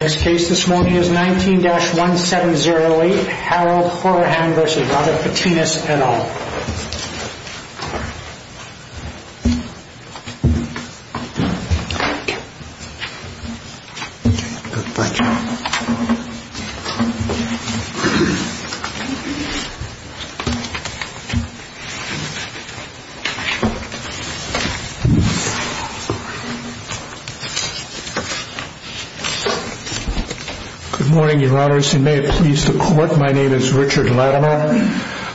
This case this morning is 19-1708 Harold Hourihan v. Robert Bitinas et al. Good morning, your honors, and may it please the court, my name is Richard Latimer,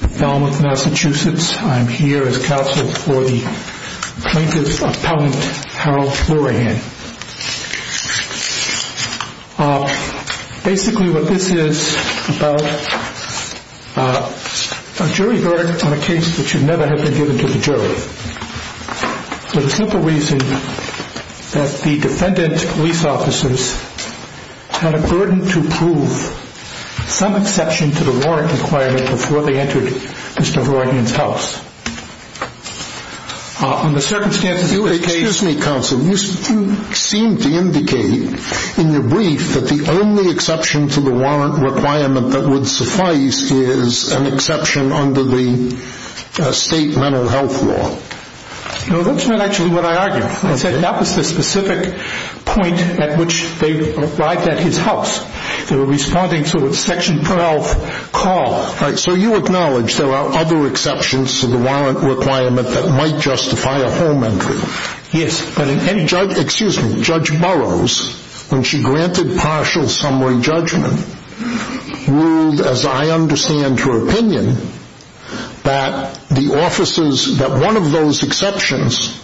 from Falmouth, Massachusetts. I'm here as counsel for the plaintiff's appellant, Harold Hourihan. Basically what this is about, a jury verdict on a case that should never have been given to the jury. For the simple reason that the defendant's police officers had a burden to prove some exception to the warrant requirement before they entered Mr. Hourihan's house. Excuse me, counsel, you seem to indicate in your brief that the only exception to the warrant requirement that would suffice is an exception under the state mental health law. No, that's not actually what I argued. That was the specific point at which they arrived at his house. They were responding to a section 12 call. So you acknowledge there are other exceptions to the warrant requirement that might justify a home entry. Yes. Excuse me, Judge Burroughs, when she granted partial summary judgment, ruled, as I understand her opinion, that one of those exceptions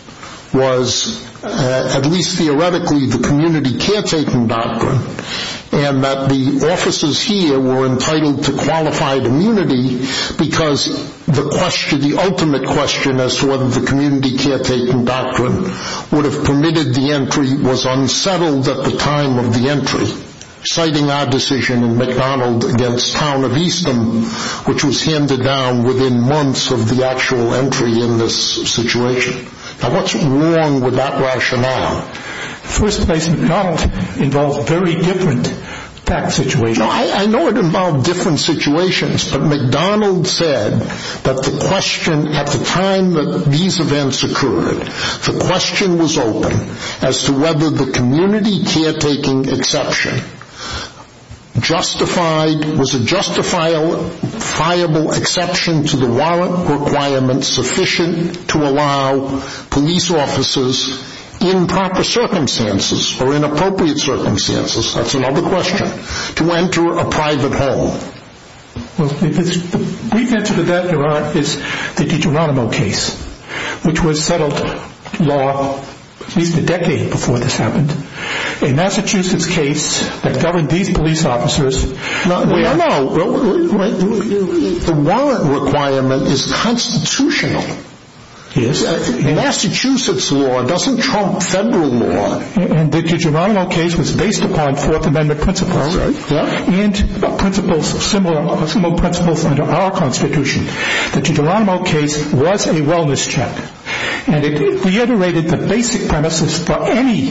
was, at least theoretically, the community caretaking doctrine, and that the officers here were entitled to qualified immunity because the ultimate question as to whether the community caretaking doctrine would have permitted the entry was unsettled at the time of the entry, citing our decision in McDonald against Town of Easton, which was handed down within months of the actual entry in this situation. Now what's wrong with that rationale? In the first place, McDonald involved very different fact situations. I know it involved different situations, but McDonald said that the question at the time that these events occurred, the question was open as to whether the community caretaking exception justified, whether it was a justifiable exception to the warrant requirement sufficient to allow police officers in proper circumstances or inappropriate circumstances, that's another question, to enter a private home. The brief answer to that is the DeGeronimo case, which was settled at least a decade before this happened. A Massachusetts case that governed these police officers. No, the warrant requirement is constitutional. Yes. Massachusetts law doesn't trump federal law. And the DeGeronimo case was based upon Fourth Amendment principles. Yes. And principles of similar principles under our Constitution. The DeGeronimo case was a wellness check. And it reiterated the basic premises for any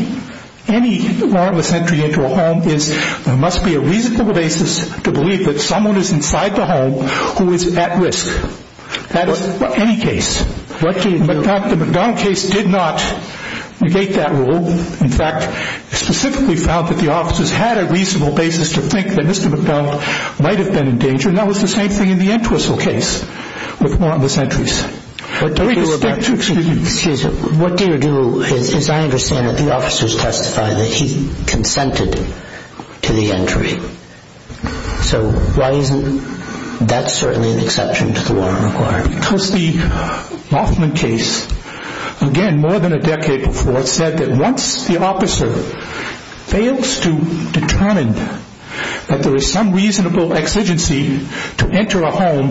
warrantless entry into a home is there must be a reasonable basis to believe that someone is inside the home who is at risk. That is for any case. The McDonald case did not negate that rule. In fact, specifically found that the officers had a reasonable basis to think that Mr. McDonald might have been in danger. And that was the same thing in the Entwistle case with warrantless entries. Excuse me. What do you do? As I understand it, the officers testified that he consented to the entry. So why isn't that certainly an exception to the warrant requirement? Because the Hoffman case, again, more than a decade before, said that once the officer fails to determine that there is some reasonable exigency to enter a home,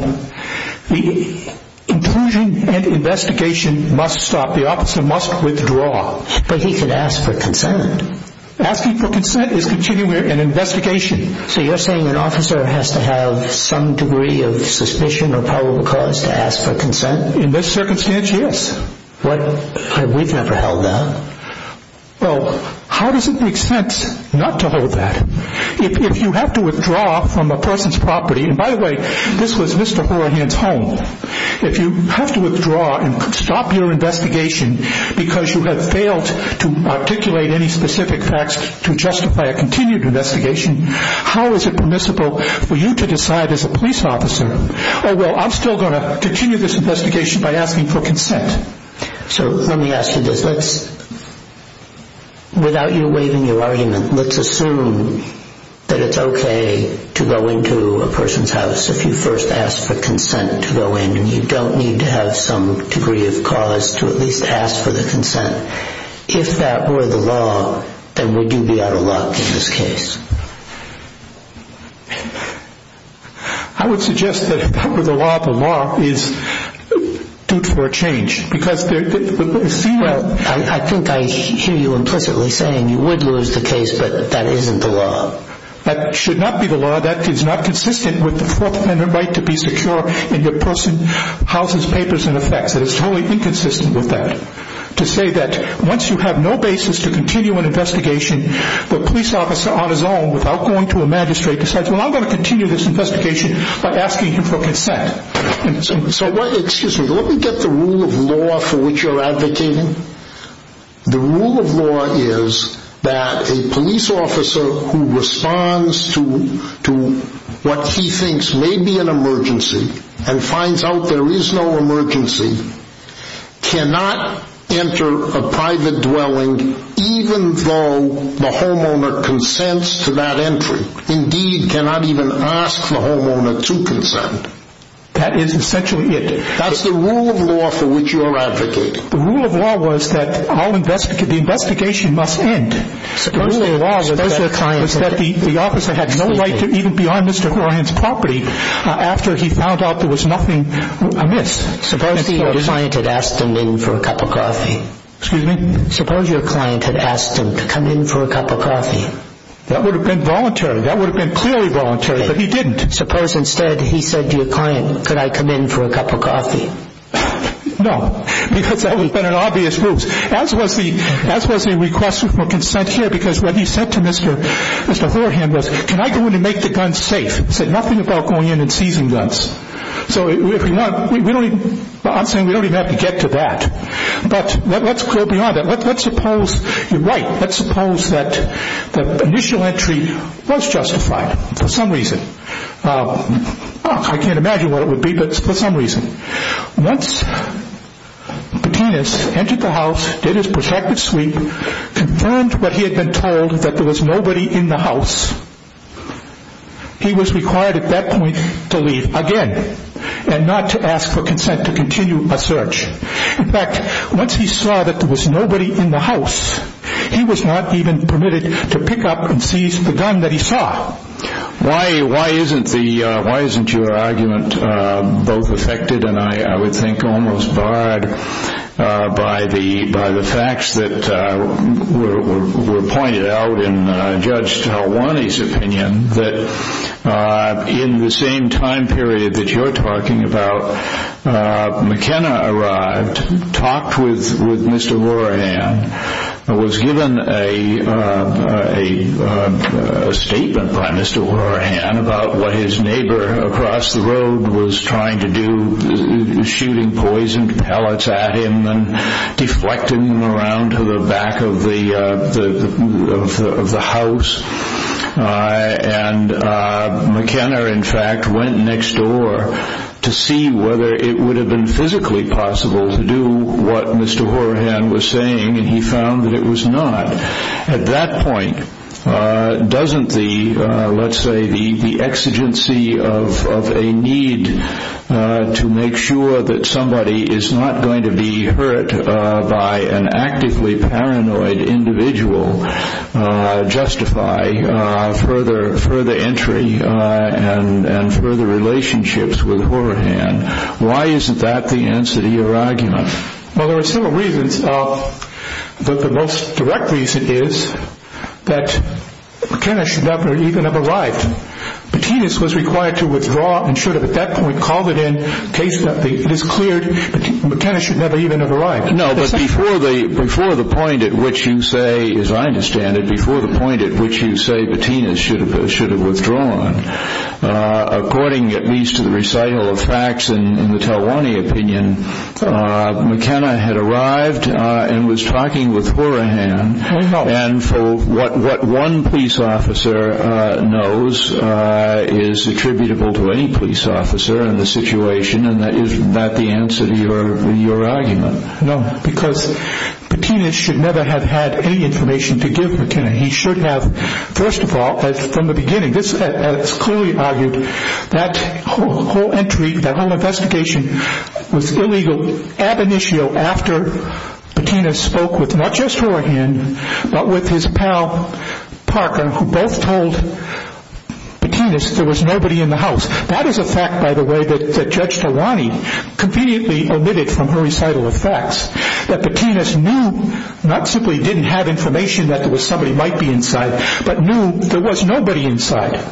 the intrusion and investigation must stop. The officer must withdraw. But he could ask for consent. Asking for consent is continuing an investigation. So you're saying an officer has to have some degree of suspicion or probable cause to ask for consent? In this circumstance, yes. But we've never held that. Well, how does it make sense not to hold that? If you have to withdraw from a person's property, and by the way, this was Mr. Horahan's home. If you have to withdraw and stop your investigation because you have failed to articulate any specific facts to justify a continued investigation, how is it permissible for you to decide as a police officer, oh, well, I'm still going to continue this investigation by asking for consent? So let me ask you this. Without you waiving your argument, let's assume that it's okay to go into a person's house if you first ask for consent to go in, and you don't need to have some degree of cause to at least ask for the consent. If that were the law, then would you be out of luck in this case? I would suggest that if that were the law, the law is due for a change, because it seems like – Well, I think I hear you implicitly saying you would lose the case, but that isn't the law. That should not be the law. That is not consistent with the Fourth Amendment right to be secure in the person's house's papers and effects. That is totally inconsistent with that. To say that once you have no basis to continue an investigation, the police officer on his own without going to a magistrate decides, well, I'm going to continue this investigation by asking him for consent. So, excuse me, let me get the rule of law for which you're advocating. The rule of law is that a police officer who responds to what he thinks may be an emergency and finds out there is no emergency cannot enter a private dwelling even though the homeowner consents to that entry. Indeed, cannot even ask the homeowner to consent. That is essentially it. That's the rule of law for which you're advocating. The rule of law was that the investigation must end. The rule of law was that the officer had no right to even be on Mr. Horan's property after he found out there was nothing amiss. Suppose your client had asked him in for a cup of coffee. Excuse me? Suppose your client had asked him to come in for a cup of coffee. That would have been voluntary. That would have been clearly voluntary, but he didn't. Suppose instead he said to your client, could I come in for a cup of coffee? No, because that would have been an obvious move, as was the request for consent here, because what he said to Mr. Horan was, can I go in and make the gun safe? He said nothing about going in and seizing guns. So if we want, I'm saying we don't even have to get to that. But let's go beyond that. Let's suppose you're right. Let's suppose that the initial entry was justified for some reason. I can't imagine what it would be, but for some reason. Once Patinas entered the house, did his protective sleep, confirmed what he had been told, that there was nobody in the house, he was required at that point to leave again and not to ask for consent to continue a search. In fact, once he saw that there was nobody in the house, he was not even permitted to pick up and seize the gun that he saw. Why isn't your argument both affected and I would think almost barred by the facts that were pointed out in Judge Talwani's opinion that in the same time period that you're talking about, McKenna arrived, talked with Mr. Horan, was given a statement by Mr. Horan about what his neighbor across the road was trying to do, shooting poison pellets at him and deflecting them around to the back of the house. McKenna, in fact, went next door to see whether it would have been physically possible to do what Mr. Horan was saying, and he found that it was not. At that point, doesn't the, let's say, the exigency of a need to make sure that somebody is not going to be hurt by an actively paranoid individual justify further entry and further relationships with Horan? Why isn't that the answer to your argument? Well, there are several reasons. The most direct reason is that McKenna should never even have arrived. Patinas was required to withdraw and should have at that point called it in in case it is cleared that McKenna should never even have arrived. No, but before the point at which you say, as I understand it, before the point at which you say Patinas should have withdrawn, according at least to the recital of facts in the Telwani opinion, McKenna had arrived and was talking with Horan, and what one police officer knows is attributable to any police officer in the situation, and that is not the answer to your argument. No, because Patinas should never have had any information to give McKenna. He should have, first of all, from the beginning, this is clearly argued, that whole entry, that whole investigation was illegal ab initio after Patinas spoke with not just Horan, but with his pal Parker, who both told Patinas there was nobody in the house. That is a fact, by the way, that Judge Telwani conveniently omitted from her recital of facts, that Patinas knew not simply didn't have information that there was somebody might be inside, but knew there was nobody inside.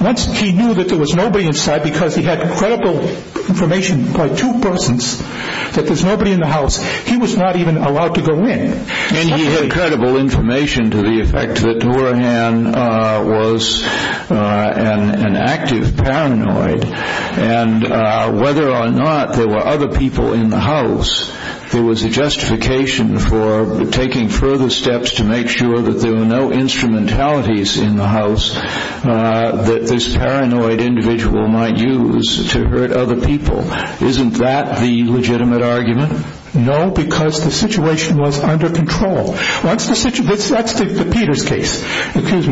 Once he knew that there was nobody inside because he had credible information by two persons that there's nobody in the house, he was not even allowed to go in. And he had credible information to the effect that Horan was an active paranoid, and whether or not there were other people in the house, there was a justification for taking further steps to make sure that there were no instrumentalities in the house that this paranoid individual might use to hurt other people. Isn't that the legitimate argument? No, because the situation was under control. That's the Peters case. Once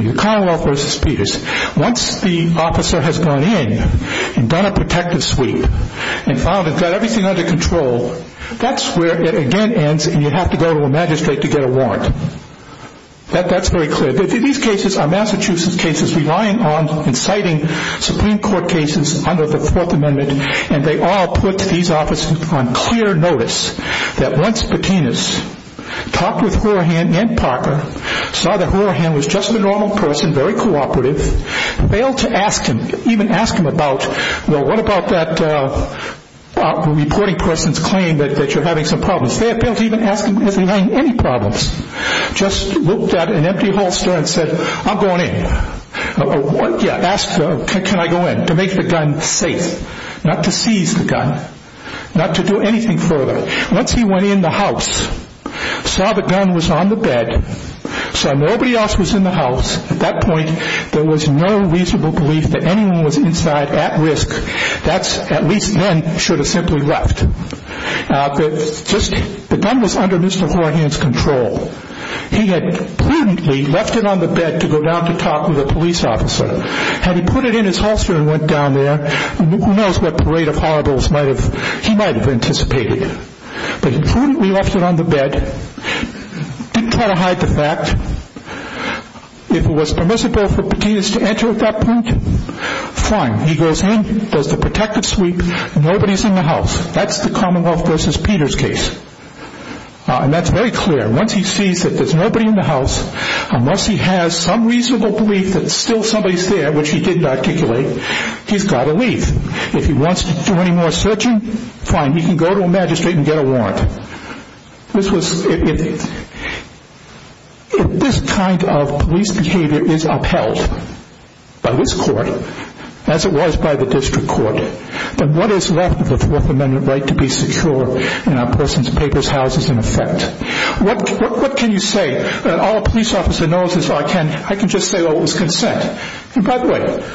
the officer has gone in and done a protective sweep and got everything under control, that's where it again ends and you have to go to a magistrate to get a warrant. That's very clear. These cases are Massachusetts cases relying on inciting Supreme Court cases under the Fourth Amendment, and they all put these officers on clear notice that once Patinas talked with Horan and Parker, saw that Horan was just a normal person, very cooperative, failed to even ask him about, well, what about that reporting person's claim that you're having some problems? Failed to even ask him if he was having any problems. Just looked at an empty holster and said, I'm going in. Asked, can I go in? To make the gun safe. Not to seize the gun. Not to do anything further. Once he went in the house, saw the gun was on the bed, saw nobody else was in the house, at that point there was no reasonable belief that anyone was inside at risk. At least none should have simply left. The gun was under Mr. Horan's control. He had prudently left it on the bed to go down to talk with a police officer. Had he put it in his holster and went down there, who knows what parade of horribles he might have anticipated. But he prudently left it on the bed, didn't try to hide the fact. If it was permissible for Patinas to enter at that point, fine. He goes in, does the protective sweep, nobody's in the house. That's the Commonwealth v. Peters case. That's very clear. Once he sees there's nobody in the house, unless he has some reasonable belief that still somebody's there, which he didn't articulate, he's got to leave. If he wants to do any more searching, fine, he can go to a magistrate and get a warrant. If this kind of police behavior is upheld by this court, as it was by the district court, then what is left of the Fourth Amendment right to be secure in a person's papers, houses, and effect. What can you say? All a police officer knows is I can just say it was consent. By the way,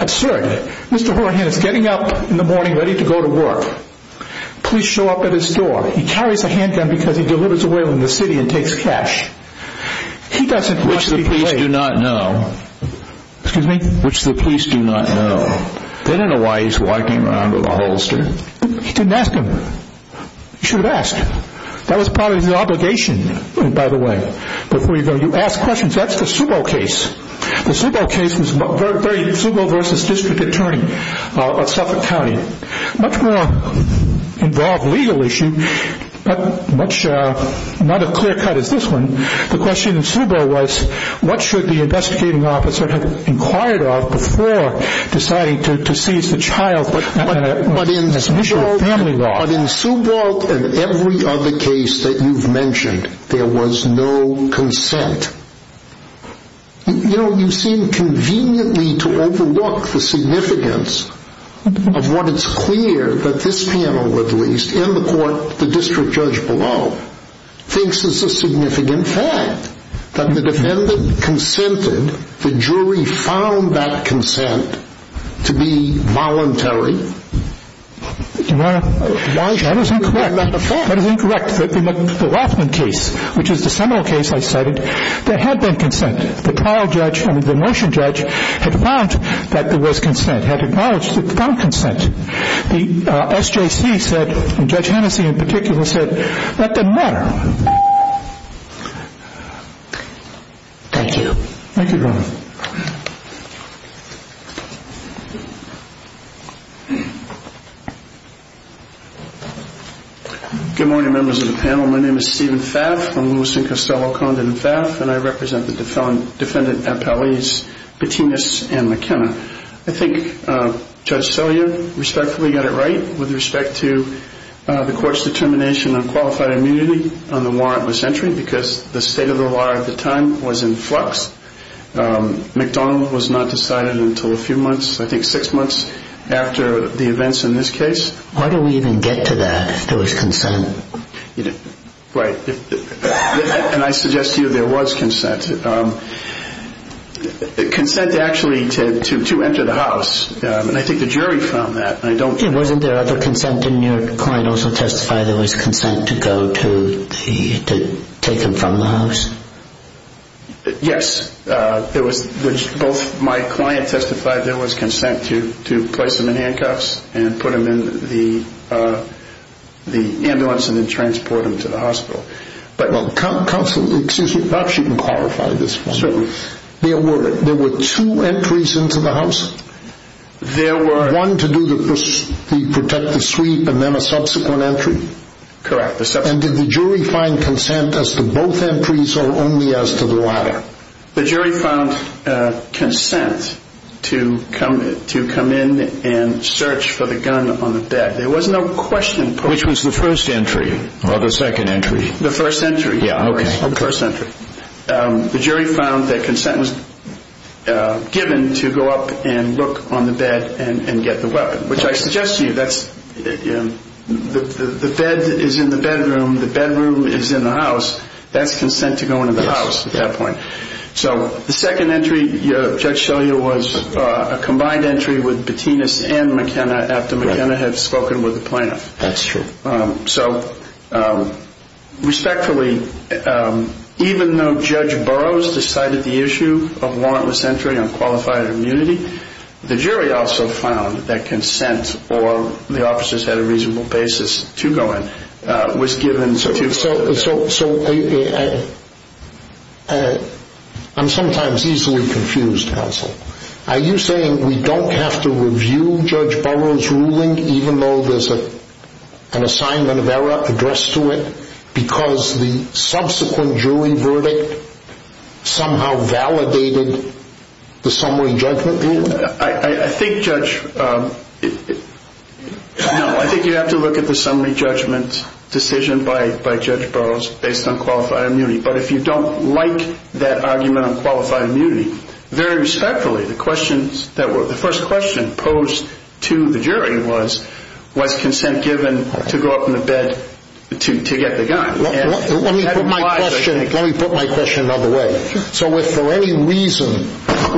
absurd, Mr. Horan is getting up in the morning ready to go to work. Police show up at his door. He carries a handgun because he delivers oil in the city and takes cash. Which the police do not know. They don't know why he's walking around with a holster. He didn't ask him. He should have asked. That was part of his obligation, by the way. Before you go, you ask questions. That's the Subo case. The Subo case was Subo v. District Attorney of Suffolk County. Much more involved legal issue, not as clear cut as this one, the question in Subo was what should the investigating officer have inquired of before deciding to seize the child. But in Subo and every other case that you've mentioned, there was no consent. You seem conveniently to overlook the significance of what is clear that this panel, at least, and the court, the district judge below, thinks is a significant fact. That the defendant consented, the jury found that consent to be voluntary. That is incorrect. That is incorrect. In the Rothman case, which is the seminal case I cited, there had been consent. The trial judge, I mean the motion judge, had found that there was consent, had acknowledged that there was consent. The SJC said, and Judge Hennessey in particular said, that didn't matter. Thank you. Good morning, members of the panel. My name is Stephen Pfaff. I'm Lewis and Costello-Condon Pfaff, and I represent the defendant appellees Petinas and McKenna. I think Judge Sellier respectfully got it right with respect to the court's determination on qualified immunity on the warrantless entry, because the state of the law at the time was in flux. McDonnell was not decided until a few months, I think six months, after the events in this case. Why do we even get to that, if there was consent? Right. And I suggest to you there was consent. Consent actually to enter the house, and I think the jury found that. Wasn't there other consent? Didn't your client also testify there was consent to go to take him from the house? Yes. My client testified there was consent to place him in handcuffs and put him in the ambulance and then transport him to the hospital. Counsel, excuse me, perhaps you can clarify this for me. Certainly. There were two entries into the house? There were... One to do the protective sweep and then a subsequent entry? Correct. And did the jury find consent as to both entries or only as to the latter? The jury found consent to come in and search for the gun on the bed. There was no question... Which was the first entry or the second entry? The first entry. Yeah, okay. The first entry. The jury found that consent was given to go up and look on the bed and get the weapon, which I suggest to you that's... The bed is in the bedroom. The bedroom is in the house. That's consent to go into the house at that point. So the second entry, Judge Shelley, was a combined entry with Batinas and McKenna after McKenna had spoken with the plaintiff. That's true. So, respectfully, even though Judge Burroughs decided the issue of warrantless entry on qualified immunity, the jury also found that consent, or the officers had a reasonable basis to go in, was given to... So, I'm sometimes easily confused, counsel. Are you saying we don't have to review Judge Burroughs' ruling even though there's an assignment of error addressed to it because the subsequent jury verdict somehow validated the summary judgment ruling? I think, Judge... No, I think you have to look at the summary judgment decision by Judge Burroughs based on qualified immunity. But if you don't like that argument on qualified immunity, very respectfully, the first question posed to the jury was, was consent given to go up on the bed to get the gun? Let me put my question another way. So if for any reason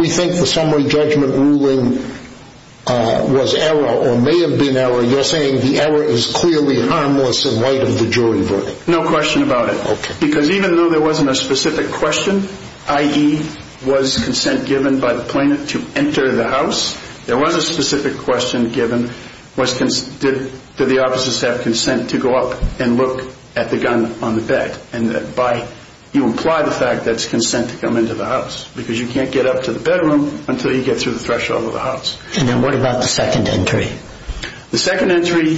we think the summary judgment ruling was error or may have been error, you're saying the error is clearly harmless in light of the jury verdict? No question about it. Because even though there wasn't a specific question, i.e., was consent given by the plaintiff to enter the house, there was a specific question given, did the officers have consent to go up and look at the gun on the bed? And you imply the fact that it's consent to come into the house because you can't get up to the bedroom until you get through the threshold of the house. And then what about the second entry? The second entry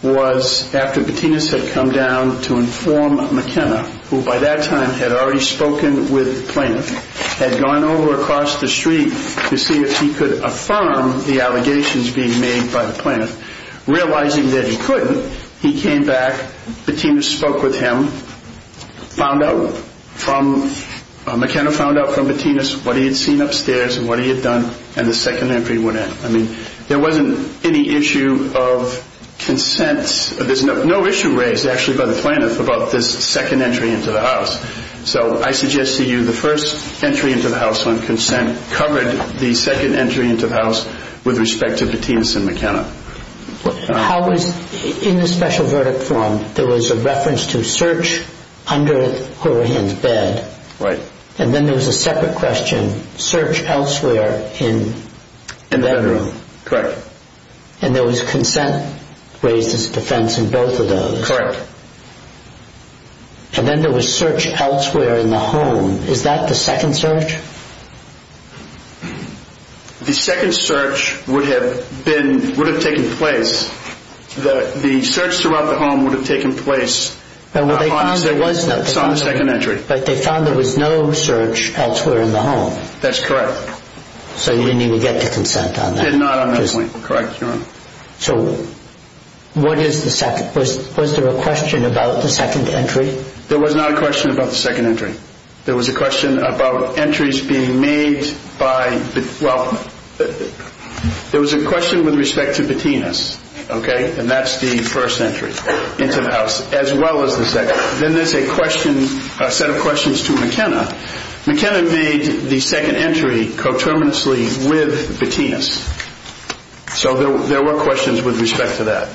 was after Patinas had come down to inform McKenna, who by that time had already spoken with the plaintiff, had gone over across the street to see if he could affirm the allegations being made by the plaintiff. Realizing that he couldn't, he came back, Patinas spoke with him, found out from McKenna, found out from Patinas what he had seen upstairs and what he had done, and the second entry went in. I mean, there wasn't any issue of consent. There's no issue raised, actually, by the plaintiff about this second entry into the house. So I suggest to you the first entry into the house on consent covered the second entry into the house with respect to Patinas and McKenna. How was, in the special verdict form, there was a reference to search under Hurahan's bed. Right. And then there was a separate question, search elsewhere in the bedroom. Correct. And there was consent raised as a defense in both of those. Correct. And then there was search elsewhere in the home. Is that the second search? The second search would have been, would have taken place, the search throughout the home would have taken place on the second entry. But they found there was no search elsewhere in the home. That's correct. So you didn't even get to consent on that? Did not on that point, correct, Your Honor. So what is the second, was there a question about the second entry? There was not a question about the second entry. There was a question about entries being made by, well, there was a question with respect to Patinas, okay, and that's the first entry into the house, as well as the second. Then there's a question, a set of questions to McKenna. McKenna made the second entry coterminously with Patinas. So there were questions with respect to that.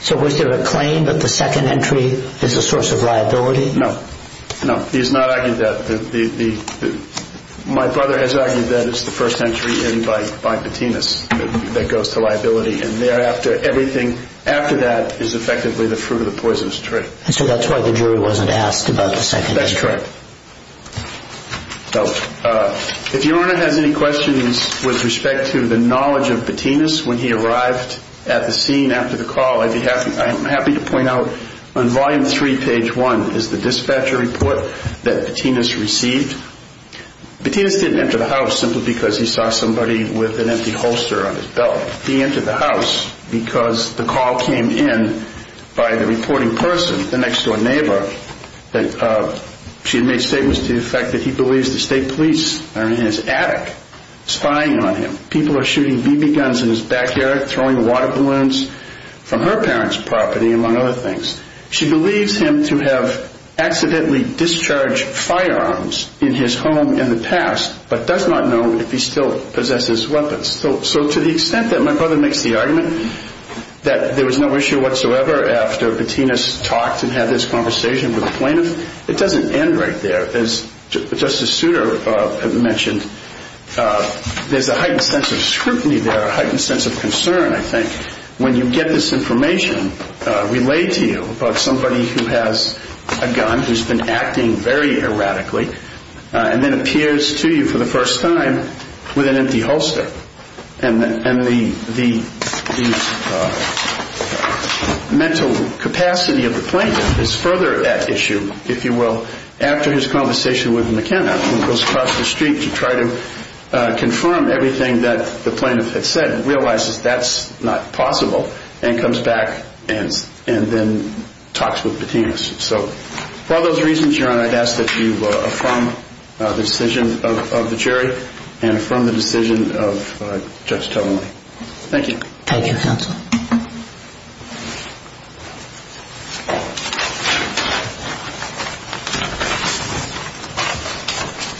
So was there a claim that the second entry is a source of liability? No, no, he has not argued that. My brother has argued that it's the first entry in by Patinas that goes to liability, and thereafter, everything after that is effectively the fruit of the poisonous tree. So that's why the jury wasn't asked about the second entry. Correct. If Your Honor has any questions with respect to the knowledge of Patinas when he arrived at the scene after the call, I'm happy to point out on Volume 3, Page 1, is the dispatcher report that Patinas received. Patinas didn't enter the house simply because he saw somebody with an empty holster on his belt. He entered the house because the call came in by the reporting person, the next-door neighbor. She had made statements to the effect that he believes the state police are in his attic spying on him. People are shooting BB guns in his backyard, throwing water balloons from her parents' property, among other things. She believes him to have accidentally discharged firearms in his home in the past, but does not know if he still possesses weapons. So to the extent that my brother makes the argument that there was no issue whatsoever after Patinas talked and had this conversation with the plaintiff, it doesn't end right there. As Justice Souter mentioned, there's a heightened sense of scrutiny there, a heightened sense of concern, I think, when you get this information relayed to you about somebody who has a gun, who's been acting very erratically, and then appears to you for the first time with an empty holster. And the mental capacity of the plaintiff is further at issue, if you will, after his conversation with McKenna, who goes across the street to try to confirm everything that the plaintiff had said, and realizes that's not possible, and comes back and then talks with Patinas. So for all those reasons, Your Honor, I'd ask that you affirm the decision of the jury and affirm the decision of Judge Teller. Thank you. Thank you, counsel.